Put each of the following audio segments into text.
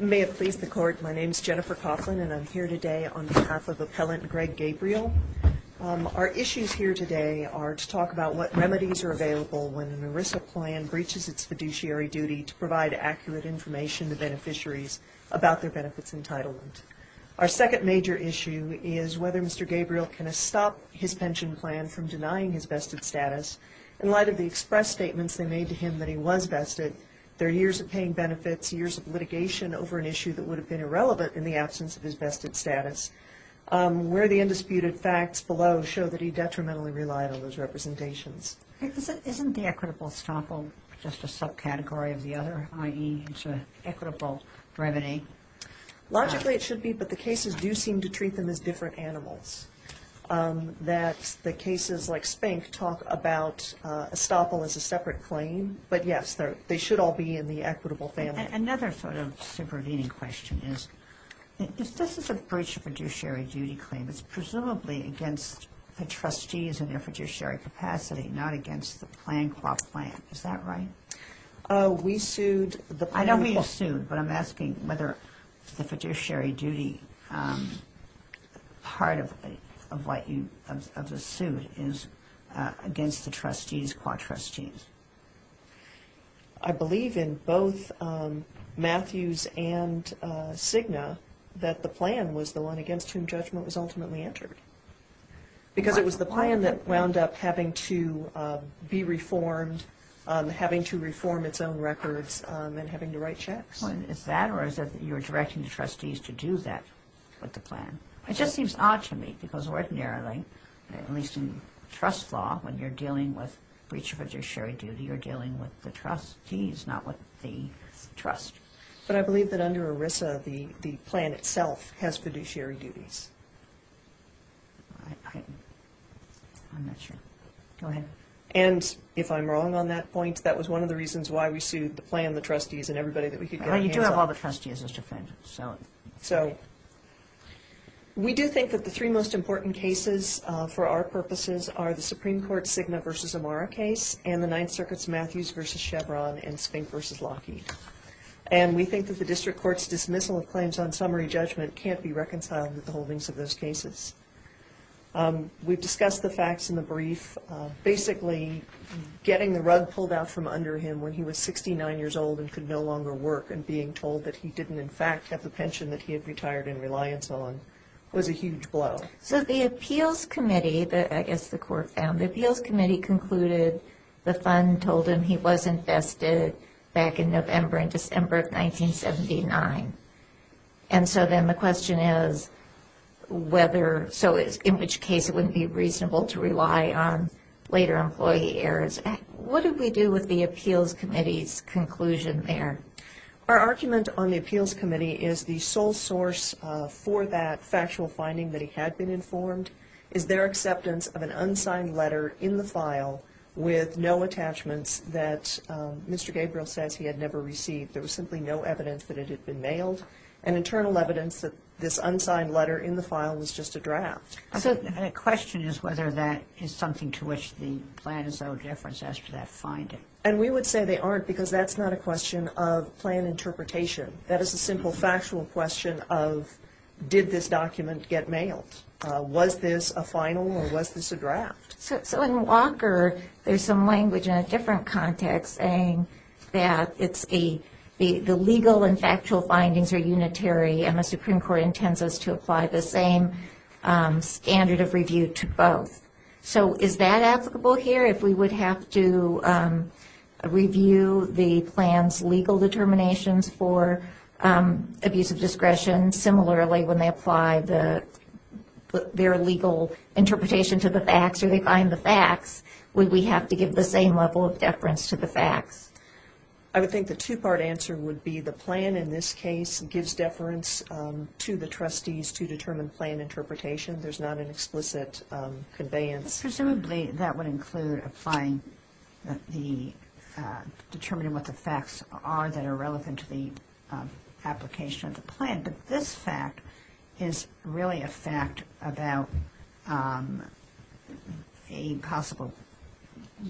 May it please the Court, my name is Jennifer Coughlin and I'm here today on behalf of Appellant Greg Gabriel. Our issues here today are to talk about what remedies are available when an ERISA plan breaches its fiduciary duty to provide accurate information to beneficiaries about their benefits entitlement. Our second major issue is whether Mr. Gabriel can stop his pension plan from denying his vested status in light of the express statements they over an issue that would have been irrelevant in the absence of his vested status, where the undisputed facts below show that he detrimentally relied on those representations. Isn't the equitable estoppel just a subcategory of the other, i.e. it's an equitable remedy? Logically it should be, but the cases do seem to treat them as different animals. That the cases like Spank talk about estoppel as a separate claim, but yes they should all be in the equitable family. Another sort of supervening question is, if this is a breach of fiduciary duty claim, it's presumably against the trustees in their fiduciary capacity, not against the plan qua plan, is that right? We sued the plan qua. I know we sued, but I'm asking whether the fiduciary duty part of what you, of the suit is against the Matthews and Cigna, that the plan was the one against whom judgment was ultimately entered. Because it was the plan that wound up having to be reformed, having to reform its own records, and having to write checks. Is that or is it that you're directing the trustees to do that with the plan? It just seems odd to me, because ordinarily, at least in trust law, when you're dealing with breach of the trust. But I believe that under ERISA, the plan itself has fiduciary duties. I'm not sure. Go ahead. And if I'm wrong on that point, that was one of the reasons why we sued the plan, the trustees, and everybody that we could get our hands on. You do have all the trustees, Mr. Finch, so. So, we do think that the three most important cases for our purposes are the Supreme Court Cigna versus Amara case and the Ninth Circuit's Matthews versus Chevron and Spink versus Lockheed. And we think that the district court's dismissal of claims on summary judgment can't be reconciled with the holdings of those cases. We've discussed the facts in the brief. Basically, getting the rug pulled out from under him when he was 69 years old and could no longer work, and being told that he didn't, in fact, have the pension that he had retired in reliance on, was a huge blow. So, the appeals committee concluded the fund told him he was infested back in November and December of 1979. And so then the question is whether, so in which case it wouldn't be reasonable to rely on later employee errors. What do we do with the appeals committee's conclusion there? Our argument on the appeals committee is the sole source for that factual finding that he had been informed is their acceptance of an unsigned letter in the file with no attachments that Mr. Gabriel says he had never received. There was simply no evidence that it had been mailed. And internal evidence that this unsigned letter in the file was just a draft. So, the question is whether that is something to which the plan is of no difference as to that finding. And we would say they aren't because that's not a question of plan interpretation. That is a simple factual question of did this document get mailed? Was this a final or was this a draft? So, in Walker, there's some language in a different context saying that it's the legal and factual findings are unitary and the Supreme Court intends us to apply the same standard of review to both. So, is that applicable here if we would have to review the plan's legal determinations for abuse of discretion and similarly when they apply their legal interpretation to the facts or they find the facts, would we have to give the same level of deference to the facts? I would think the two-part answer would be the plan in this case gives deference to the trustees to determine plan interpretation. There's not an explicit conveyance. Presumably, that would include applying the determining what the facts are that are relevant to the application of the plan. But this fact is really a fact about a possible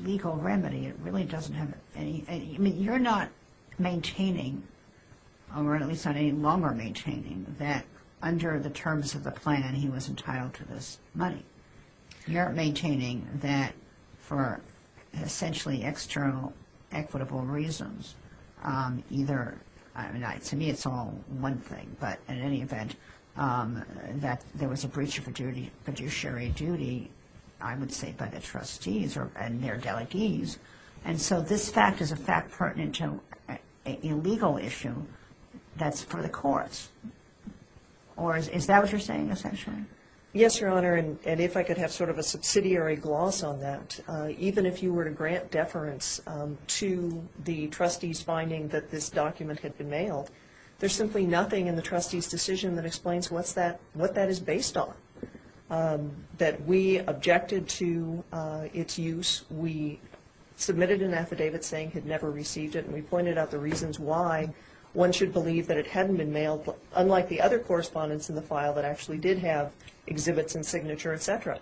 legal remedy. It really doesn't have anything. I mean, you're not maintaining or at least not any longer maintaining that under the terms of the plan, he was entitled to this money. You're maintaining that for essentially external equitable reasons. To me, it's all one thing. But in any event, that there was a breach of fiduciary duty, I would say by the trustees and their delegates. And so this fact is a fact pertinent to an illegal issue that's for the courts. Or is that what you're saying essentially? Yes, Your Honor. And if I could have sort of a subsidiary gloss on that, even if you were to grant deference to the trustees finding that this document had been mailed, there's simply nothing in the trustees' decision that explains what that is based on. That we objected to its use. We submitted an affidavit saying had never received it. And we pointed out the reasons why one should believe that it hadn't been mailed, unlike the other correspondents in the file that actually did have exhibits and signature, etc.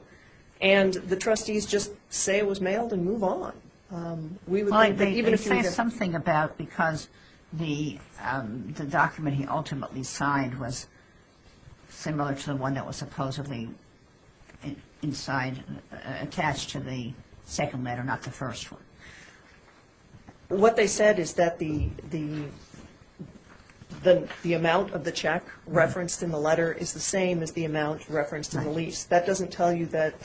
And the trustees said, well, let's move on. They say something about because the document he ultimately signed was similar to the one that was supposedly inside, attached to the second letter, not the first one. What they said is that the amount of the check referenced in the letter is the same as the amount referenced in the lease. That doesn't tell you that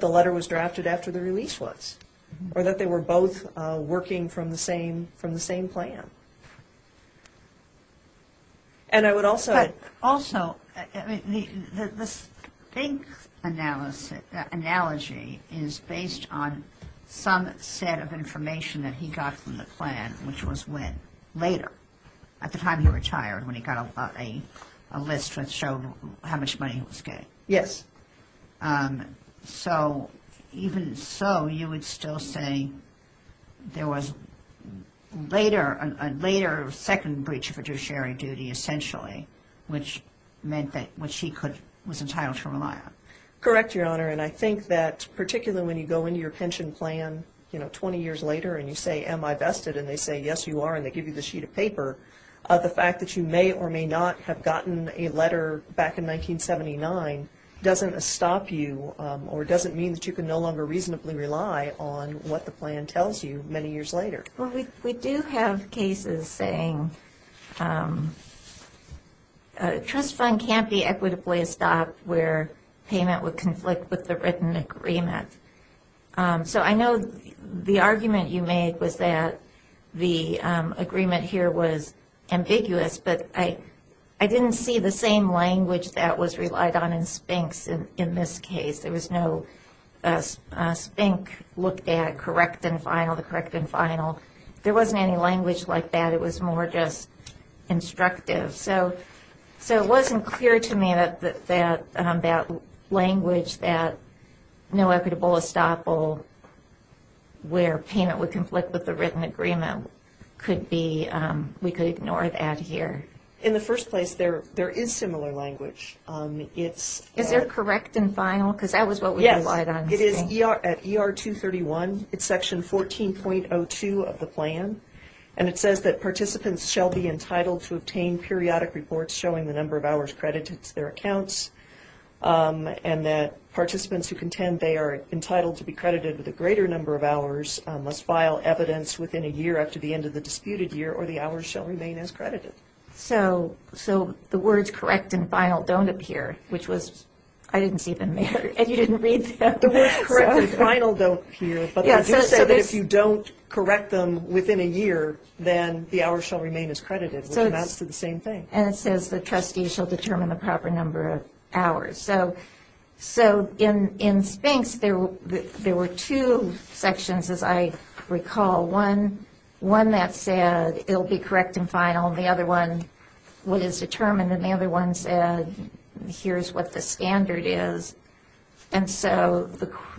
the letter was drafted after the release was, or that they were both working from the same plan. And I would also... But also, the Sphinx analogy is based on some set of information that he got from the plan, which was when? Later, at the time he retired, when he got a list that showed how much money he was getting. Yes. So, even so, you would still say there was a later second breach of fiduciary duty, essentially, which meant that, which he was entitled to rely on. Correct, Your Honor. And I think that particularly when you go into your pension plan, you know, 20 years later, and you say, am I vested? And they say, yes, you are. And they give you the same amount of money. So, the fact that you have a letter back in 1979 doesn't stop you, or doesn't mean that you can no longer reasonably rely on what the plan tells you many years later. Well, we do have cases saying a trust fund can't be equitably stopped where payment would conflict with the written agreement. So, I know the argument you made was that the agreement here was language that was relied on in SPINCs in this case. There was no SPINC looked at, correct and final, the correct and final. There wasn't any language like that. It was more just instructive. So, it wasn't clear to me that language that no equitable estoppel where payment would conflict with the written agreement could be, we could ignore that here. In the first place, there is similar language. Is there correct and final? Because that was what we relied on. Yes. It is at ER 231. It's section 14.02 of the plan. And it says that participants shall be entitled to obtain periodic reports showing the number of hours credited to their accounts, and that participants who contend they are entitled to be credited with a greater number of hours must file evidence within a year after the end of the disputed year, or the hours shall remain as credited. So, the words correct and final don't appear, which was, I didn't see them there, and you didn't read them. The words correct and final don't appear, but they do say that if you don't correct them within a year, then the hours shall remain as credited. So, that's the same thing. And it says that trustees shall determine the proper number of hours. So, in SPINCs, there were two sections, as I recall. One that said it will be correct and final. The other one, what is determined. And the other one said, here's what the standard is. And so,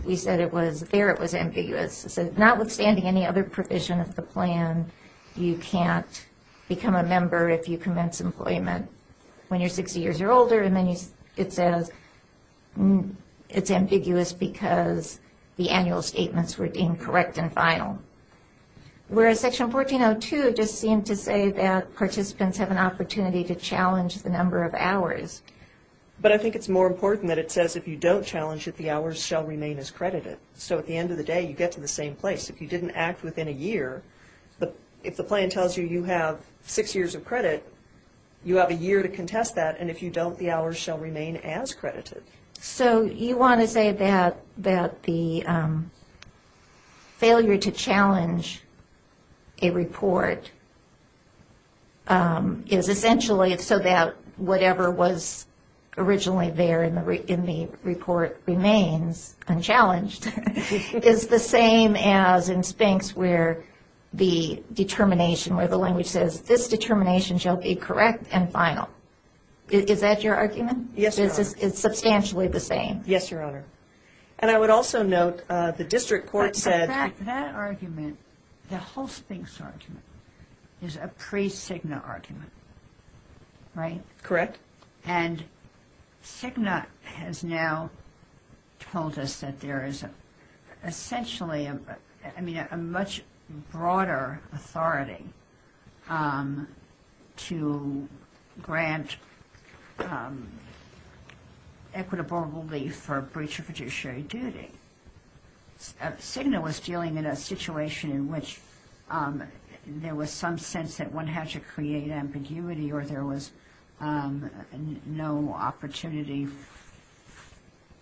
we said it was, there it was ambiguous. It said, notwithstanding any other provision of the plan, you can't become a member if you commence employment when you're 60 years or older. And then it says, it's ambiguous because the annual statements were deemed correct and final. Whereas Section 1402 just seemed to say that participants have an opportunity to challenge the number of hours. But I think it's more important that it says if you don't challenge it, the hours shall remain as credited. So, at the end of the day, you get to the same place. If you didn't act within a year, if the plan tells you you have six years of credit, you have a year to contest that. And if you don't, the hours shall remain as credited. So, you want to say that the failure to challenge a report is essentially so that whatever was originally there in the report remains unchallenged, is the same as in SPINCs where the determination, where the language says, this determination shall be correct and final. Is that your argument? Yes, Your Honor. It's substantially the same. Yes, Your Honor. And I would also note the district court said... In fact, that argument, the whole SPINC argument, is a pre-Cigna argument. Right? Correct. And Cigna has now told us that there is essentially a much broader authority to grant equitable relief for breach of fiduciary duty. Cigna was dealing in a situation in which there was some sense that one had to create ambiguity or there was no opportunity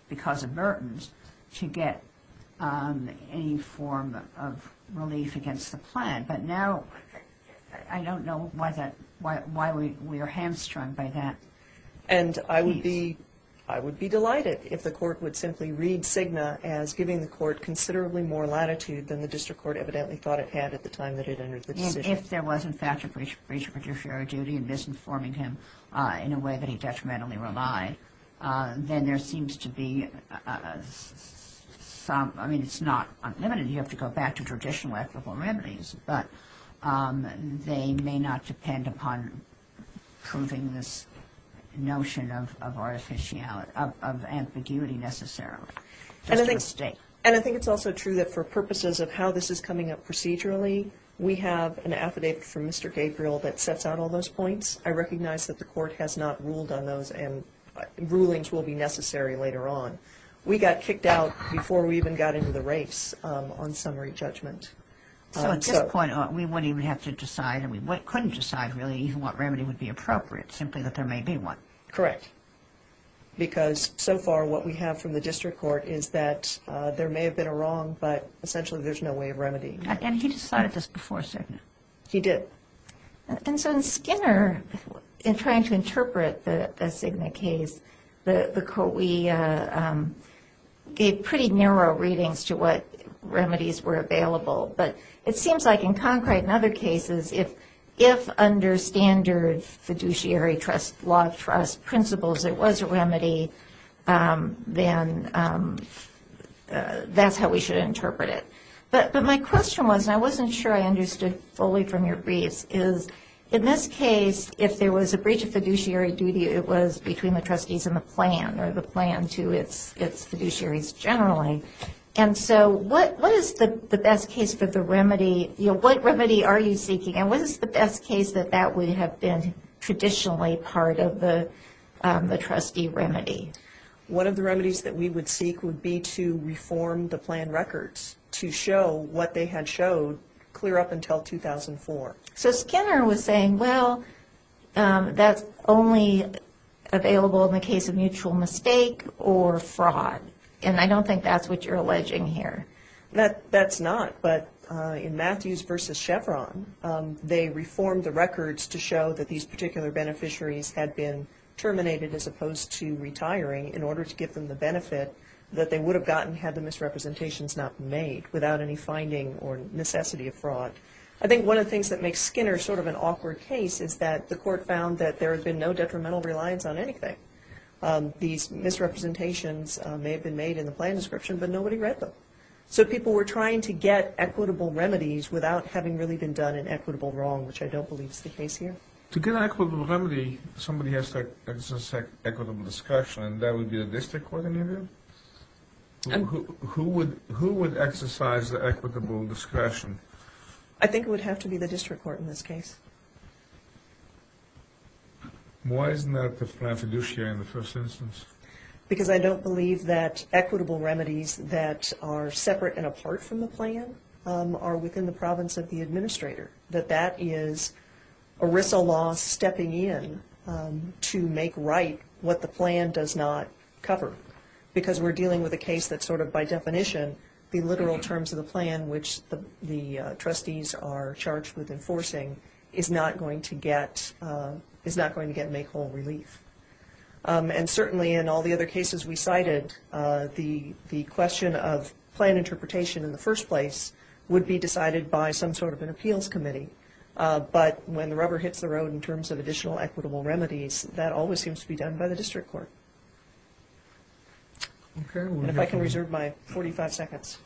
because of burdens to get any form of relief against the plan. But now, I don't know why we are hamstrung by that. And I would be delighted if the court would simply read Cigna as giving the court considerably more latitude than the district court evidently thought it had at the time that it entered the decision. If there was, in fact, a breach of fiduciary duty and misinforming him in a way that he detrimentally relied, then there seems to be some... I mean, it's not unlimited. You have to go back to traditional equitable remedies. But they may not depend upon proving this notion of ambiguity necessarily. And I think it's also true that for purposes of how this is coming up procedurally, we have an affidavit from Mr. Gabriel that sets out all those points. I recognize that the court has not ruled on those and rulings will be necessary later on. We got kicked out before we even got into the race on summary judgment. So at this point, we wouldn't even have to decide and we couldn't decide really even what remedy would be appropriate, simply that there may be one. Correct. Because so far what we have from the district court is that there may have been a wrong, but essentially there's no way of remedying it. And he decided this before Cigna? He did. And so in Skinner, in trying to interpret the Cigna case, the court, we gave pretty narrow readings to what remedies were available. But it seems like in concrete and other cases, if under standard fiduciary trust law trust principles there was a remedy, then that's how we should interpret it. But my question was, and I wasn't sure I understood fully from your briefs, is in this case, if there was a breach of fiduciary duty, it was between the trustees and the plan or the plan to its fiduciaries generally. And so what is the best case for the remedy? What remedy are you seeking and what is the best case that that would have been traditionally part of the trustee remedy? One of the remedies that we would seek would be to reform the plan records to show what they had showed clear up until 2004. So Skinner was saying, well, that's only available in the case of mutual mistake or fraud. And I don't think that's what you're alleging here. That's not. But in Matthews v. Chevron, they reformed the records to show that these particular beneficiaries had been terminated as opposed to retiring in order to give them the benefit that they would have gotten had the misrepresentations not been made without any finding or necessity of fraud. I think one of the things that makes Skinner sort of an awkward case is that the court found that there had been no detrimental reliance on anything. These misrepresentations may have been made in the plan description, but nobody read them. So people were trying to get equitable remedies without having really been done an equitable wrong, which I don't believe is the case here. To get an equitable remedy, somebody has to exercise equitable discretion, and that would be the district court in your view? Who would exercise the equitable discretion? I think it would have to be the district court in this case. Why isn't that the plan fiduciary in the first instance? Because I don't believe that equitable remedies that are separate and apart from the plan are within the province of the administrator, that that is ERISA law stepping in to make right what the plan does not cover. Because we're dealing with a case that sort of by definition, the literal terms of the plan, which the trustees are charged with enforcing, is not going to get make whole relief. And certainly in all the other cases we cited, the question of plan interpretation in the first place would be decided by some sort of an appeals committee. But when the rubber hits the road in terms of additional equitable remedies, that always seems to be done by the district court. And if I can reserve my 45 seconds.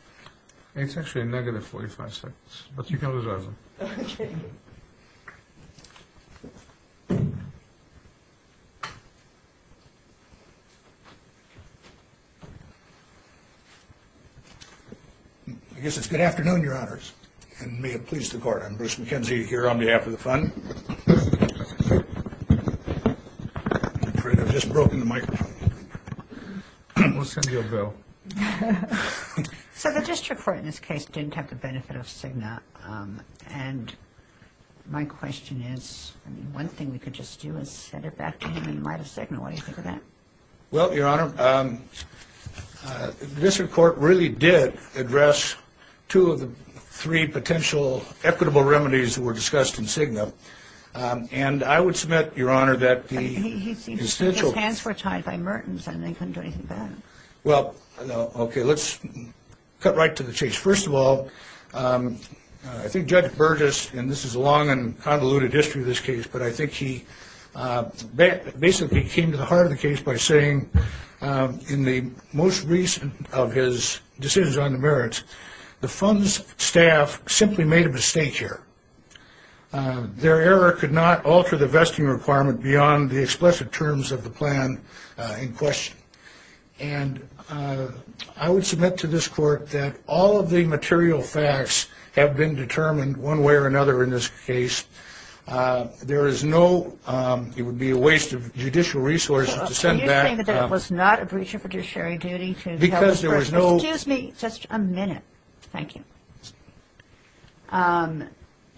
It's actually a negative 45 seconds, but you can reserve them. Okay. I guess it's good afternoon, your honors, and may it please the court. I'm Bruce McKenzie here on behalf of the fund. I'm afraid I've just broken the microphone. We'll send you a bill. So the district court in this case didn't have the benefit of Cigna. And my question is, one thing we could just do is send it back to him in light of Cigna. What do you think of that? Well, your honor, the district court really did address two of the three potential equitable remedies that were discussed in Cigna. And I would submit, your honor, that the essential. His hands were tied by Mertens and they couldn't do anything about it. Well, okay, let's cut right to the chase. First of all, I think Judge Burgess, and this is a long and convoluted history of this case, but I think he basically came to the heart of the case by saying in the most recent of his decisions on the merits, the fund's staff simply made a mistake here. Their error could not alter the vesting requirement beyond the explicit terms of the plan in question. And I would submit to this court that all of the material facts have been determined one way or another in this case. There is no ‑‑ it would be a waste of judicial resources to send back. Can you say that that was not a breach of judiciary duty? Because there was no ‑‑ Excuse me just a minute. Thank you.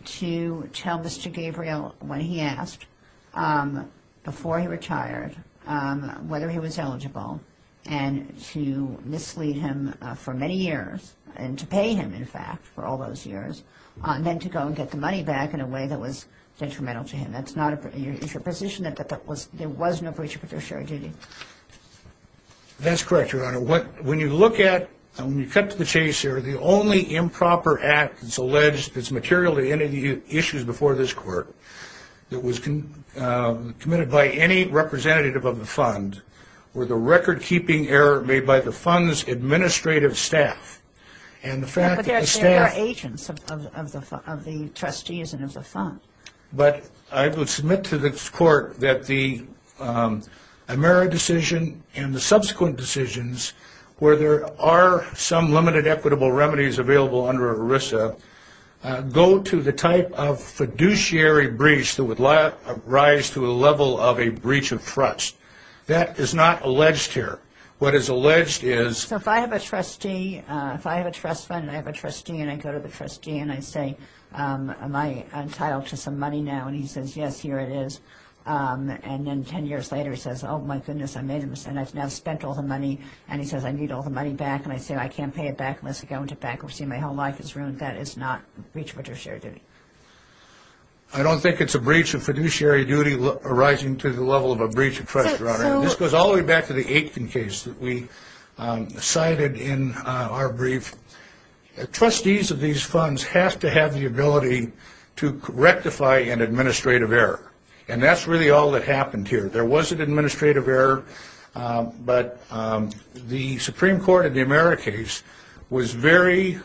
To tell Mr. Gabriel what he asked before he retired, whether he was eligible, and to mislead him for many years and to pay him, in fact, for all those years, and then to go and get the money back in a way that was detrimental to him. That's not a ‑‑ is your position that there was no breach of judiciary duty? That's correct, your honor. When you look at ‑‑ when you cut to the chase here, the only improper act that's alleged that's material to any of the issues before this court that was committed by any representative of the fund were the record‑keeping error made by the fund's administrative staff. And the fact that the staff ‑‑ But I would submit to the court that the Amera decision and the subsequent decisions where there are some limited equitable remedies available under ERISA go to the type of fiduciary breach that would rise to a level of a breach of trust. That is not alleged here. What is alleged is ‑‑ So if I have a trustee, if I have a trust fund and I have a trustee and I go to the trustee and I say, am I entitled to some money now? And he says, yes, here it is. And then 10 years later he says, oh, my goodness, I made a mistake. I've now spent all the money. And he says, I need all the money back. And I say, I can't pay it back unless I go into bankruptcy and my whole life is ruined. That is not a breach of fiduciary duty. I don't think it's a breach of fiduciary duty arising to the level of a breach of trust, your honor. This goes all the way back to the Aitken case that we cited in our brief. Trustees of these funds have to have the ability to rectify an administrative error. And that's really all that happened here. There was an administrative error, but the Supreme Court in the Amera case was very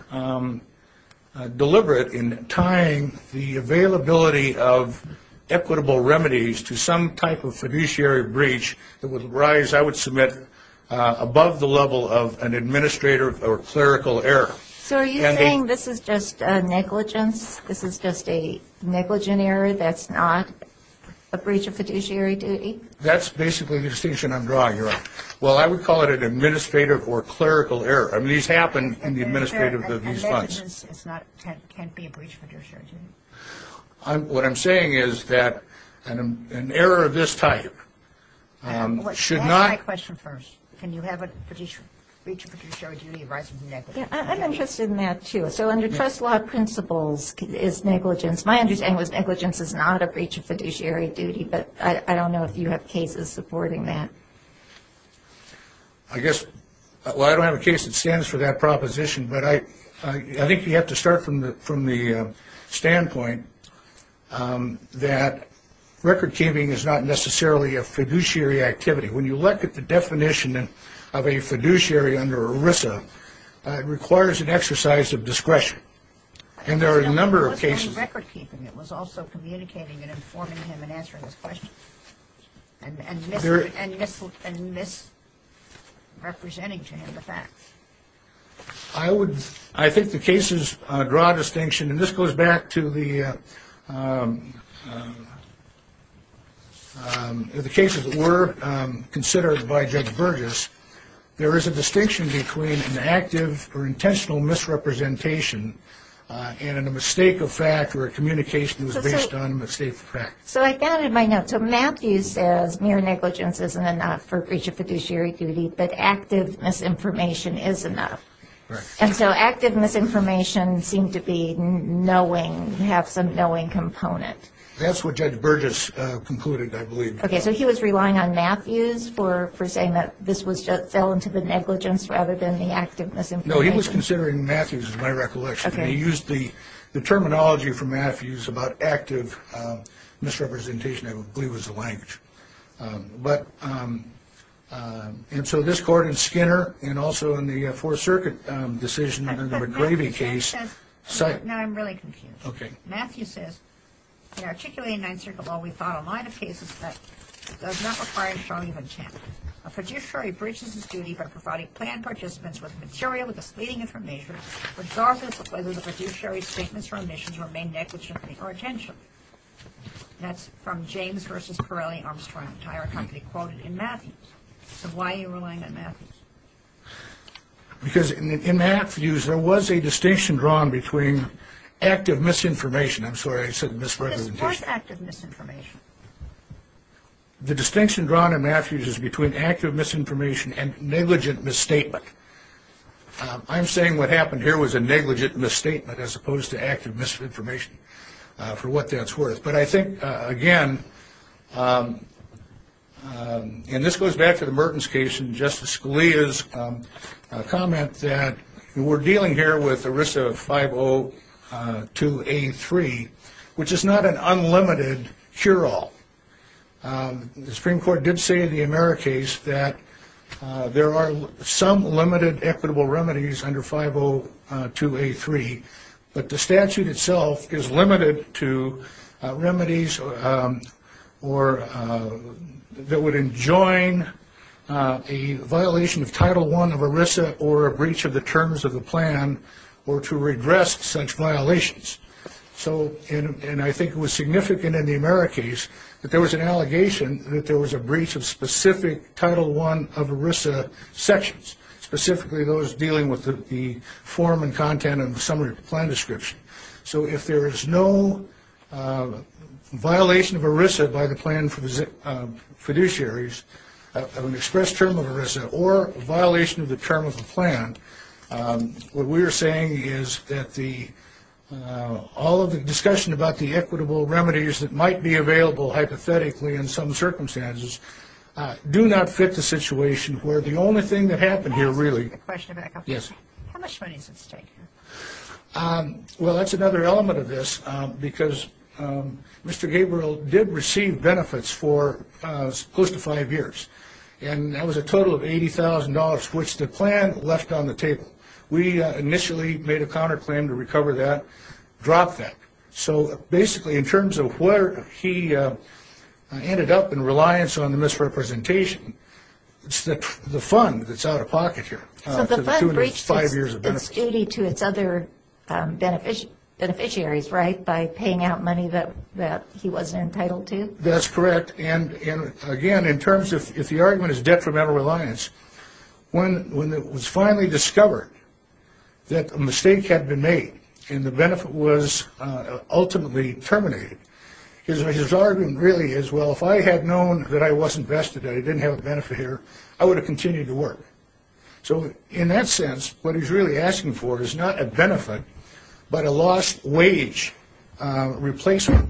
deliberate in tying the availability of equitable remedies to some type of fiduciary breach that would arise, I would submit, above the level of an administrative or clerical error. So are you saying this is just negligence, this is just a negligent error, that's not a breach of fiduciary duty? That's basically the distinction I'm drawing, your honor. Well, I would call it an administrative or clerical error. I mean, these happen in the administrative of these funds. And negligence can't be a breach of fiduciary duty? What I'm saying is that an error of this type should not. Let me ask my question first. Can you have a breach of fiduciary duty arising from negligence? Yeah, I'm interested in that, too. So under trust law principles is negligence. My understanding was negligence is not a breach of fiduciary duty, but I don't know if you have cases supporting that. I guess, well, I don't have a case that stands for that proposition, but I think you have to start from the standpoint that record keeping is not necessarily a fiduciary activity. When you look at the definition of a fiduciary under ERISA, it requires an exercise of discretion. And there are a number of cases. And record keeping, it was also communicating and informing him and answering his questions and misrepresenting to him the facts. I think the cases draw distinction, and this goes back to the cases that were considered by Judge Burgess. There is a distinction between an active or intentional misrepresentation and a mistake of fact or a communication that was based on a mistake of fact. So I found in my notes, so Matthews says mere negligence isn't enough for breach of fiduciary duty, but active misinformation is enough. And so active misinformation seemed to be knowing, have some knowing component. That's what Judge Burgess concluded, I believe. Okay, so he was relying on Matthews for saying that this fell into the negligence rather than the active misinformation. No, he was considering Matthews, is my recollection. Okay. And he used the terminology from Matthews about active misrepresentation, I believe was the language. And so this court in Skinner and also in the Fourth Circuit decision in the McGravey case. No, I'm really confused. Okay. Matthews says, in articulating Ninth Circuit law, we found a line of cases that does not require showing of intent. A fiduciary breaches its duty by providing planned participants with material with misleading information regardless of whether the fiduciary's statements or omissions remain negligent or intentional. That's from James v. Pirelli, Armstrong Tire Company, quoted in Matthews. So why are you relying on Matthews? Because in Matthews, there was a distinction drawn between active misinformation. I'm sorry, I said misrepresentation. What is part active misinformation? The distinction drawn in Matthews is between active misinformation and negligent misstatement. I'm saying what happened here was a negligent misstatement as opposed to active misinformation, for what that's worth. But I think, again, and this goes back to the Mertens case and Justice Scalia's comment, that we're dealing here with a risk of 502A3, which is not an unlimited cure-all. The Supreme Court did say in the Amera case that there are some limited equitable remedies under 502A3, but the statute itself is limited to remedies that would enjoin a violation of Title I of ERISA or a breach of the terms of the plan or to redress such violations. And I think it was significant in the Amera case that there was an allegation that there was a breach of specific Title I of ERISA sections, specifically those dealing with the form and content of the summary of the plan description. So if there is no violation of ERISA by the plan fiduciaries of an express term of ERISA or violation of the term of the plan, what we are saying is that all of the discussion about the equitable remedies that might be available hypothetically in some circumstances do not fit the situation where the only thing that happened here really... How much money does it take? Well, that's another element of this, because Mr. Gabriel did receive benefits for close to five years, and that was a total of $80,000, which the plan left on the table. We initially made a counterclaim to recover that, dropped that. So basically in terms of where he ended up in reliance on the misrepresentation, it's the fund that's out of pocket here. So the fund breached its duty to its other beneficiaries, right, by paying out money that he wasn't entitled to? That's correct. And, again, in terms of if the argument is detrimental reliance, when it was finally discovered that a mistake had been made and the benefit was ultimately terminated, his argument really is, well, if I had known that I wasn't vested and I didn't have a benefit here, I would have continued to work. So in that sense, what he's really asking for is not a benefit but a lost wage replacement.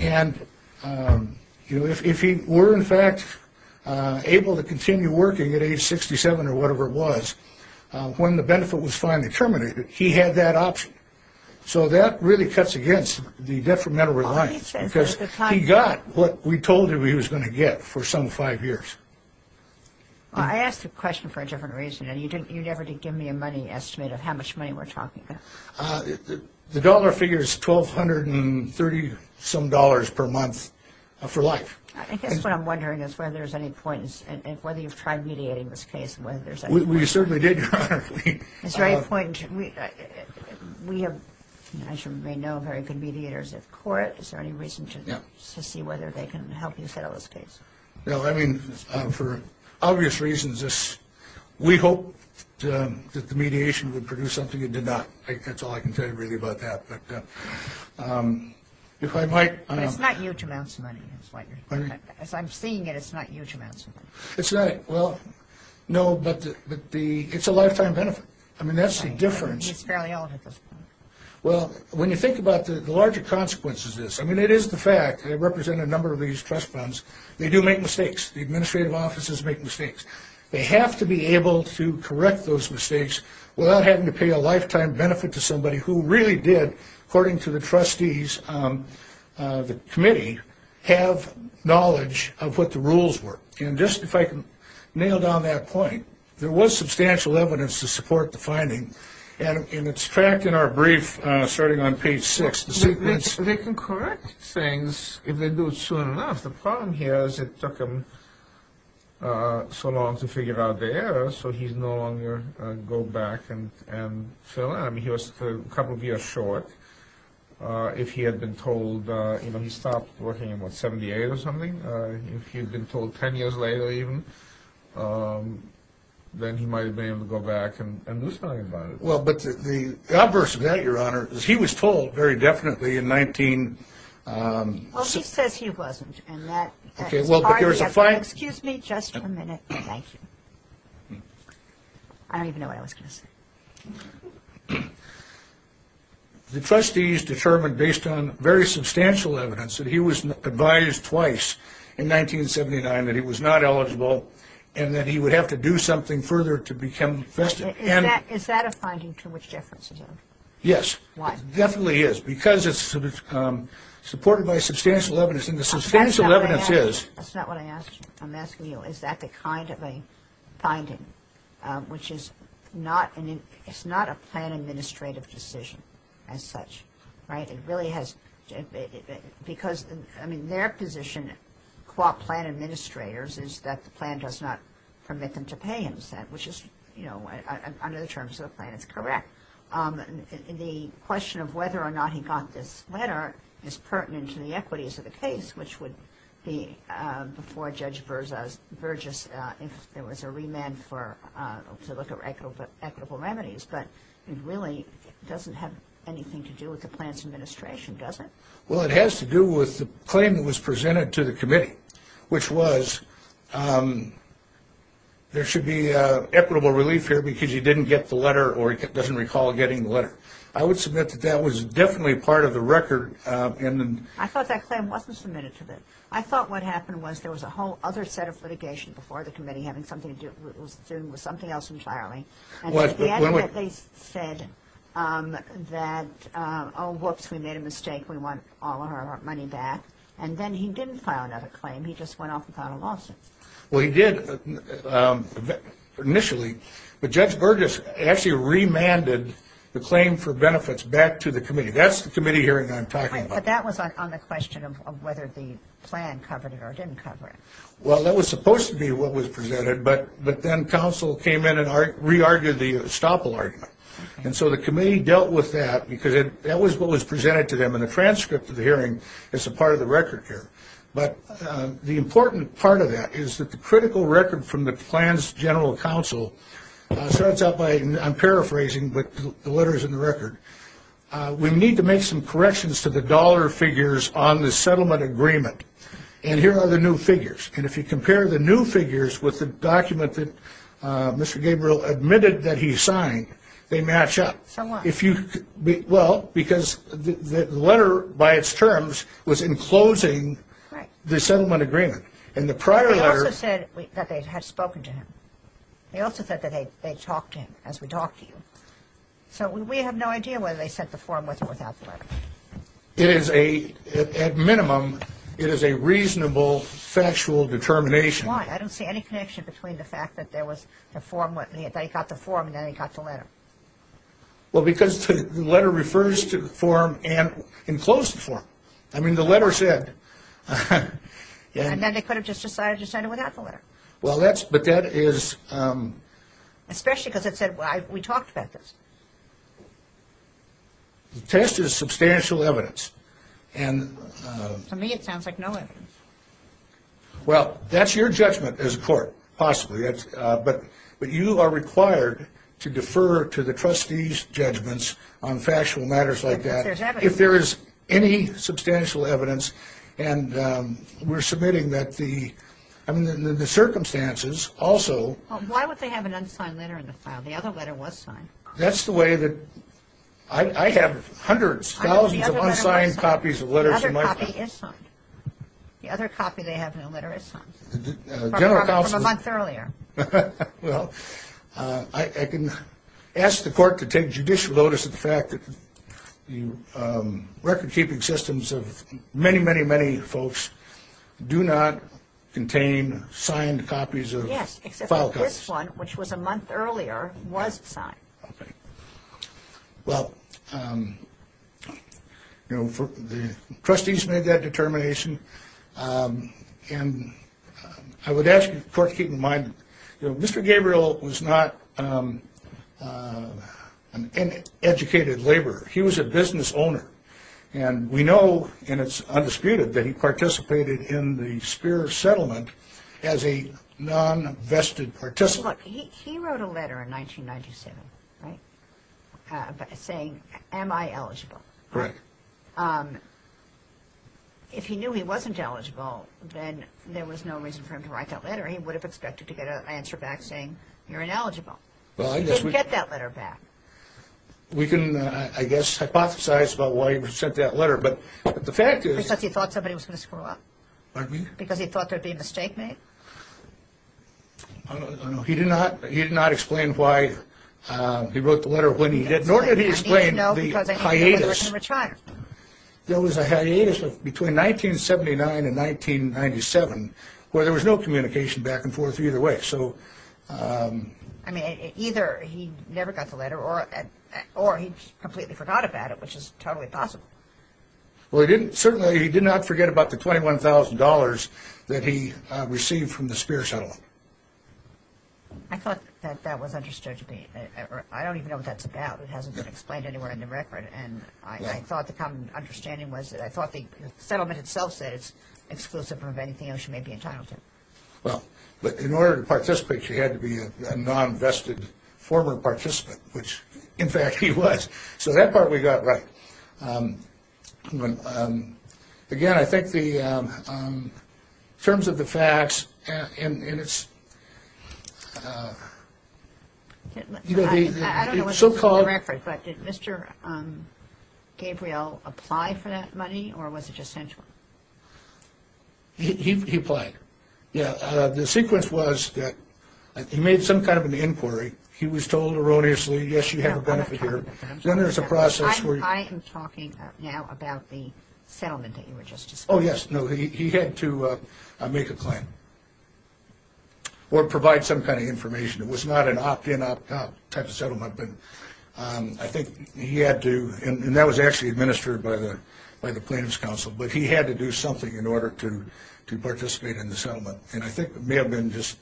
And if he were, in fact, able to continue working at age 67 or whatever it was, when the benefit was finally terminated, he had that option. So that really cuts against the detrimental reliance, because he got what we told him he was going to get for some five years. I asked the question for a different reason, and you never did give me a money estimate of how much money we're talking about. The dollar figure is $1,230-some dollars per month for life. I guess what I'm wondering is whether there's any point, and whether you've tried mediating this case and whether there's any point. We certainly did, Your Honor. Is there any point? We have, as you may know, very good mediators at court. Is there any reason to see whether they can help you settle this case? No. I mean, for obvious reasons, we hope that the mediation would produce something it did not. That's all I can tell you really about that. But if I might. But it's not huge amounts of money. As I'm seeing it, it's not huge amounts of money. It's not. Well, no, but it's a lifetime benefit. I mean, that's the difference. He's fairly old at this point. Well, when you think about the larger consequences of this, I mean, it is the fact. They represent a number of these trust funds. They do make mistakes. The administrative offices make mistakes. They have to be able to correct those mistakes without having to pay a lifetime benefit to somebody who really did, according to the trustees of the committee, have knowledge of what the rules were. And just if I can nail down that point, there was substantial evidence to support the finding, and it's tracked in our brief starting on page 6. They can correct things if they do it soon enough. The problem here is it took him so long to figure out the error, so he's no longer go back and fill in. I mean, he was a couple of years short. If he had been told, you know, he stopped working in, what, 78 or something. If he had been told 10 years later even, then he might have been able to go back and do something about it. Well, but the adverse of that, Your Honor, is he was told very definitely in 19- Well, she says he wasn't, and that's part of the- Okay, well, but there's a fine- Excuse me just a minute. Thank you. I don't even know what I was going to say. The trustees determined, based on very substantial evidence, that he was advised twice in 1979 that he was not eligible and that he would have to do something further to become festive. Is that a finding to which Jefferson's in? Yes. Why? It definitely is because it's supported by substantial evidence, and the substantial evidence is- That's not what I'm asking you. Is that the kind of a finding which is not a plan administrative decision as such, right? It really has-because, I mean, their position, qua plan administrators, is that the plan does not permit them to pay incentive, which is, you know, under the terms of the plan. It's correct. The question of whether or not he got this letter is pertinent to the equities of the case, which would be before Judge Burgess if there was a remand to look at equitable remedies, but it really doesn't have anything to do with the plan's administration, does it? Well, it has to do with the claim that was presented to the committee, which was there should be equitable relief here because he didn't get the letter or he doesn't recall getting the letter. I would submit that that was definitely part of the record. I thought that claim wasn't submitted to them. I thought what happened was there was a whole other set of litigation before the committee, having something to do with something else entirely. What? They said that, oh, whoops, we made a mistake, we want all of our money back, and then he didn't file another claim, he just went off without a lawsuit. Well, he did initially, but Judge Burgess actually remanded the claim for benefits back to the committee. That's the committee hearing I'm talking about. But that was on the question of whether the plan covered it or didn't cover it. Well, that was supposed to be what was presented, but then counsel came in and re-argued the estoppel argument, and so the committee dealt with that because that was what was presented to them, and a transcript of the hearing is a part of the record here. But the important part of that is that the critical record from the plan's general counsel starts out by, and I'm paraphrasing, but the letter is in the record, we need to make some corrections to the dollar figures on the settlement agreement, and here are the new figures. And if you compare the new figures with the document that Mr. Gabriel admitted that he signed, they match up. So what? Well, because the letter by its terms was enclosing the settlement agreement. And the prior letter... They also said that they had spoken to him. They also said that they talked to him as we talk to you. So we have no idea whether they sent the form with or without the letter. It is a, at minimum, it is a reasonable factual determination. Why? I don't see any connection between the fact that there was the form, that he got the form and then he got the letter. Well, because the letter refers to the form and enclosed the form. I mean, the letter said... And then they could have just decided to send it without the letter. Well, that's, but that is... Especially because it said, well, we talked about this. The test is substantial evidence. And... To me it sounds like no evidence. Well, that's your judgment as a court, possibly. But you are required to defer to the trustee's judgments on factual matters like that. If there is any substantial evidence. And we're submitting that the circumstances also... Why would they have an unsigned letter in the file? The other letter was signed. That's the way that... I have hundreds, thousands of unsigned copies of letters in my file. The other copy is signed. The other copy they have in the letter is signed. From a month earlier. Well, I can ask the court to take judicial notice of the fact that the record-keeping systems of many, many, many folks do not contain signed copies of file copies. Yes, except this one, which was a month earlier, was signed. Well, you know, the trustees made that determination. And I would ask the court to keep in mind that Mr. Gabriel was not an educated laborer. He was a business owner. And we know, and it's undisputed, that he participated in the Speer settlement as a non-vested participant. Look, he wrote a letter in 1997, right, saying, am I eligible? Correct. If he knew he wasn't eligible, then there was no reason for him to write that letter. He would have expected to get an answer back saying, you're ineligible. He didn't get that letter back. We can, I guess, hypothesize about why he sent that letter, but the fact is... Because he thought somebody was going to screw up? Pardon me? Because he thought there would be a mistake made? I don't know. He did not explain why he wrote the letter when he did, nor did he explain the hiatus. There was a hiatus between 1979 and 1997 where there was no communication back and forth either way. So... I mean, either he never got the letter or he completely forgot about it, which is totally possible. Well, he didn't, certainly he did not forget about the $21,000 that he received from the Speer settlement. I thought that that was understood to be, or I don't even know what that's about. It hasn't been explained anywhere in the record, and I thought the common understanding was that I thought the settlement itself said it's exclusive from anything else you may be entitled to. Well, but in order to participate, she had to be a non-vested former participant, which, in fact, he was. So that part we got right. Again, I think the terms of the facts, and it's... I don't know what's in the record, but did Mr. Gabriel apply for that money, or was it just sent to him? He applied. The sequence was that he made some kind of an inquiry. He was told erroneously, yes, you have a benefit here. Then there's a process where... I am talking now about the settlement that you were just discussing. Oh, yes. No, he had to make a claim or provide some kind of information. It was not an opt-in, opt-out type of settlement, but I think he had to, and that was actually administered by the plaintiff's counsel, but he had to do something in order to participate in the settlement, and I think it may have been just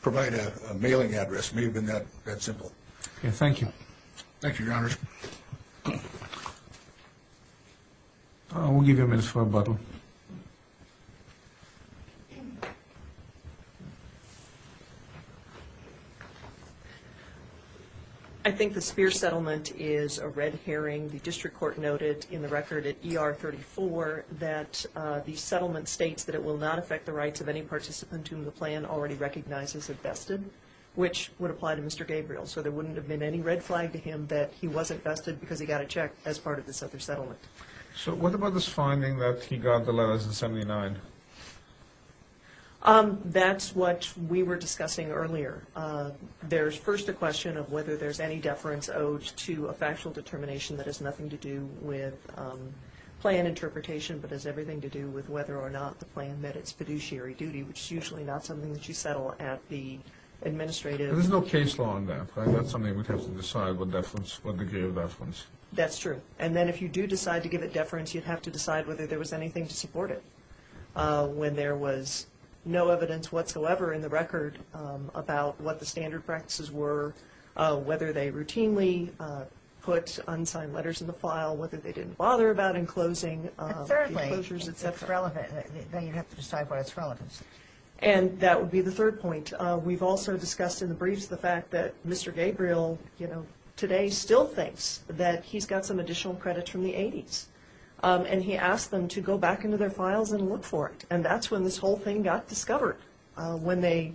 provide a mailing address. It may have been that simple. Thank you. Thank you, Your Honor. We'll give you a minute for rebuttal. I think the Speer settlement is a red herring. The district court noted in the record at ER 34 that the settlement states that it will not affect the rights of any participant whom the plan already recognizes as vested, which would apply to Mr. Gabriel. So there wouldn't have been any red flag to him that he wasn't vested because he got a check as part of this other settlement. So what about this finding that he got the letters in 79? That's what we were discussing earlier. There's first a question of whether there's any deference owed to a factual determination that has nothing to do with plan interpretation but has everything to do with whether or not the plan met its fiduciary duty, which is usually not something that you settle at the administrative. There's no case law on that. That's something we'd have to decide what deference, what degree of deference. That's true. And then if you do decide to give it deference, you'd have to decide whether there was anything to support it. When there was no evidence whatsoever in the record about what the standard practices were, whether they routinely put unsigned letters in the file, whether they didn't bother about enclosing the enclosures, et cetera. And thirdly, if it's relevant, then you'd have to decide why it's relevant. And that would be the third point. We've also discussed in the briefs the fact that Mr. Gabriel, you know, today still thinks that he's got some additional credit from the 80s, and he asked them to go back into their files and look for it. And that's when this whole thing got discovered, when they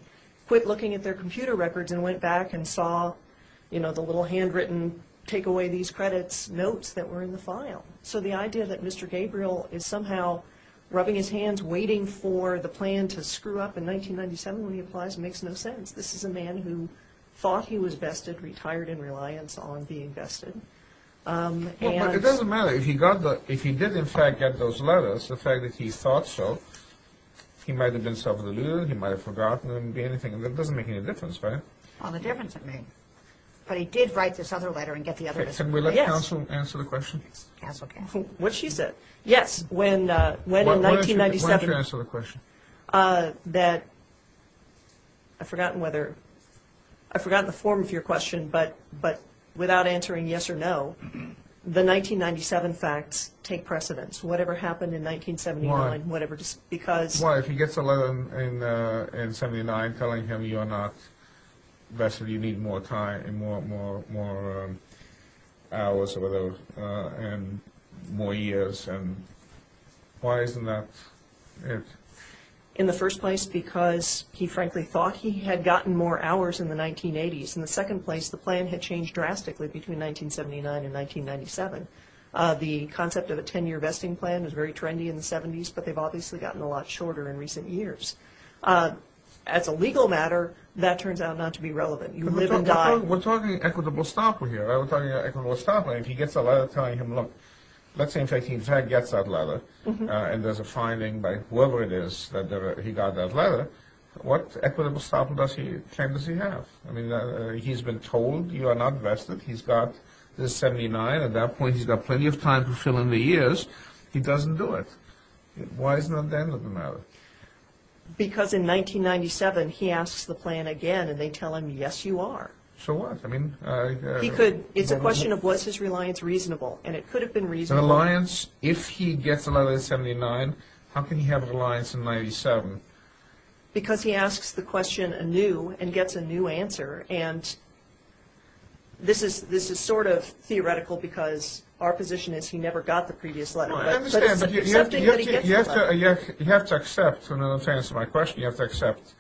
quit looking at their computer records and went back and saw, you know, the little handwritten, take away these credits notes that were in the file. So the idea that Mr. Gabriel is somehow rubbing his hands waiting for the plan to screw up in 1997 when he applies makes no sense. This is a man who thought he was vested, retired in reliance on being vested. It doesn't matter. If he did, in fact, get those letters, the fact that he thought so, he might have been self-indulgent, he might have forgotten, it doesn't make any difference, right? Well, the difference it made. But he did write this other letter and get the other one. Can we let counsel answer the question? Counsel can. What she said. Yes, when in 1997. Why don't you answer the question? That I've forgotten whether, I've forgotten the form of your question, but without answering yes or no, the 1997 facts take precedence. Whatever happened in 1979. Why? If he gets a letter in 1979 telling him you're not vested, you need more time, more hours, more years, why isn't that it? In the first place, because he frankly thought he had gotten more hours in the 1980s. In the second place, the plan had changed drastically between 1979 and 1997. The concept of a 10-year vesting plan was very trendy in the 70s, but they've obviously gotten a lot shorter in recent years. As a legal matter, that turns out not to be relevant. You live and die. We're talking equitable stopper here. We're talking equitable stopper. If he gets a letter telling him, look, let's say in fact he in fact gets that letter, and there's a finding by whoever it is that he got that letter, what equitable stopper claim does he have? I mean, he's been told you are not vested. He's got the 79. At that point, he's got plenty of time to fill in the years. He doesn't do it. Why isn't that the end of the matter? Because in 1997 he asks the plan again, and they tell him, yes, you are. So what? I mean. He could. It's a question of was his reliance reasonable, and it could have been reasonable. Reliance, if he gets a letter in 1979, how can he have reliance in 97? Because he asks the question anew and gets a new answer, and this is sort of theoretical because our position is he never got the previous letter. Well, I understand, but you have to accept. So in order to answer my question, you have to accept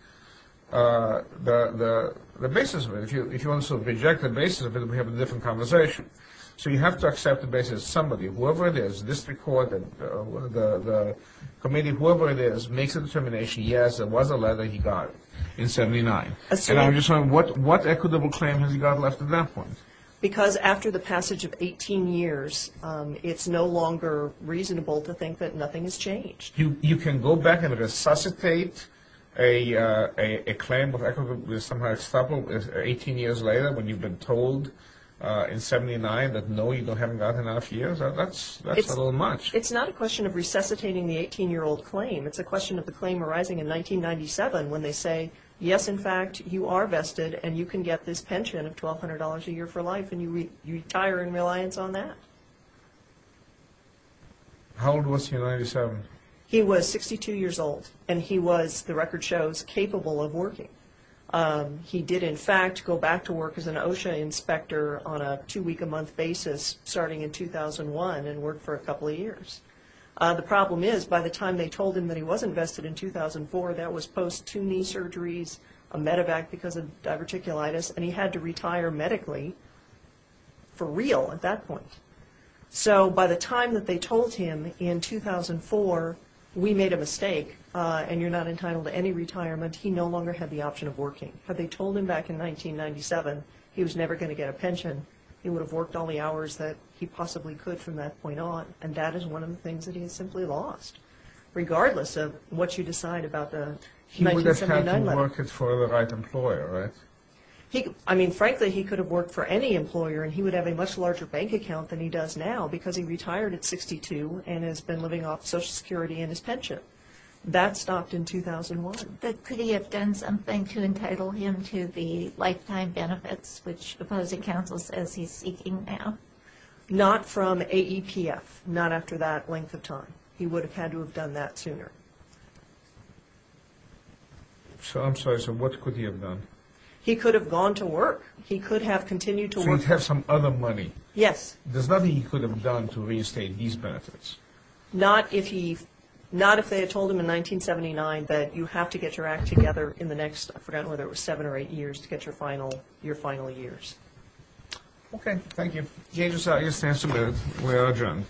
the basis of it. If you want to sort of reject the basis of it, we have a different conversation. So you have to accept the basis of somebody, whoever it is, district court, the committee, whoever it is, makes a determination, yes, there was a letter he got in 79. And I'm just wondering, what equitable claim has he got left at that point? Because after the passage of 18 years, it's no longer reasonable to think that nothing has changed. You can go back and resuscitate a claim of equitable, somehow it's 18 years later when you've been told in 79 that, no, you haven't got enough years. That's a little much. It's not a question of resuscitating the 18-year-old claim. It's a question of the claim arising in 1997 when they say, yes, in fact, you are vested and you can get this pension of $1,200 a year for life and you retire in reliance on that. How old was he in 97? He was 62 years old and he was, the record shows, capable of working. He did, in fact, go back to work as an OSHA inspector on a two-week-a-month basis starting in 2001 and worked for a couple of years. The problem is by the time they told him that he was invested in 2004, that was post two knee surgeries, a medevac because of diverticulitis, and he had to retire medically for real at that point. So by the time that they told him in 2004, we made a mistake and you're not entitled to any retirement, he no longer had the option of working. Had they told him back in 1997 he was never going to get a pension, he would have worked all the hours that he possibly could from that point on and that is one of the things that he has simply lost, regardless of what you decide about the 1979 level. He would have had to work for the right employer, right? I mean, frankly, he could have worked for any employer and he would have a much larger bank account than he does now because he retired at 62 and has been living off Social Security and his pension. That stopped in 2001. But could he have done something to entitle him to the lifetime benefits which opposing counsel says he's seeking now? Not from AEPF, not after that length of time. He would have had to have done that sooner. So I'm sorry, so what could he have done? He could have gone to work. He could have continued to work. So he'd have some other money. Yes. There's nothing he could have done to reinstate his benefits. Not if they had told him in 1979 that you have to get your act together in the next, I forgot whether it was seven or eight years, to get your final years. Okay. Thank you. James, it's time to move. We are adjourned.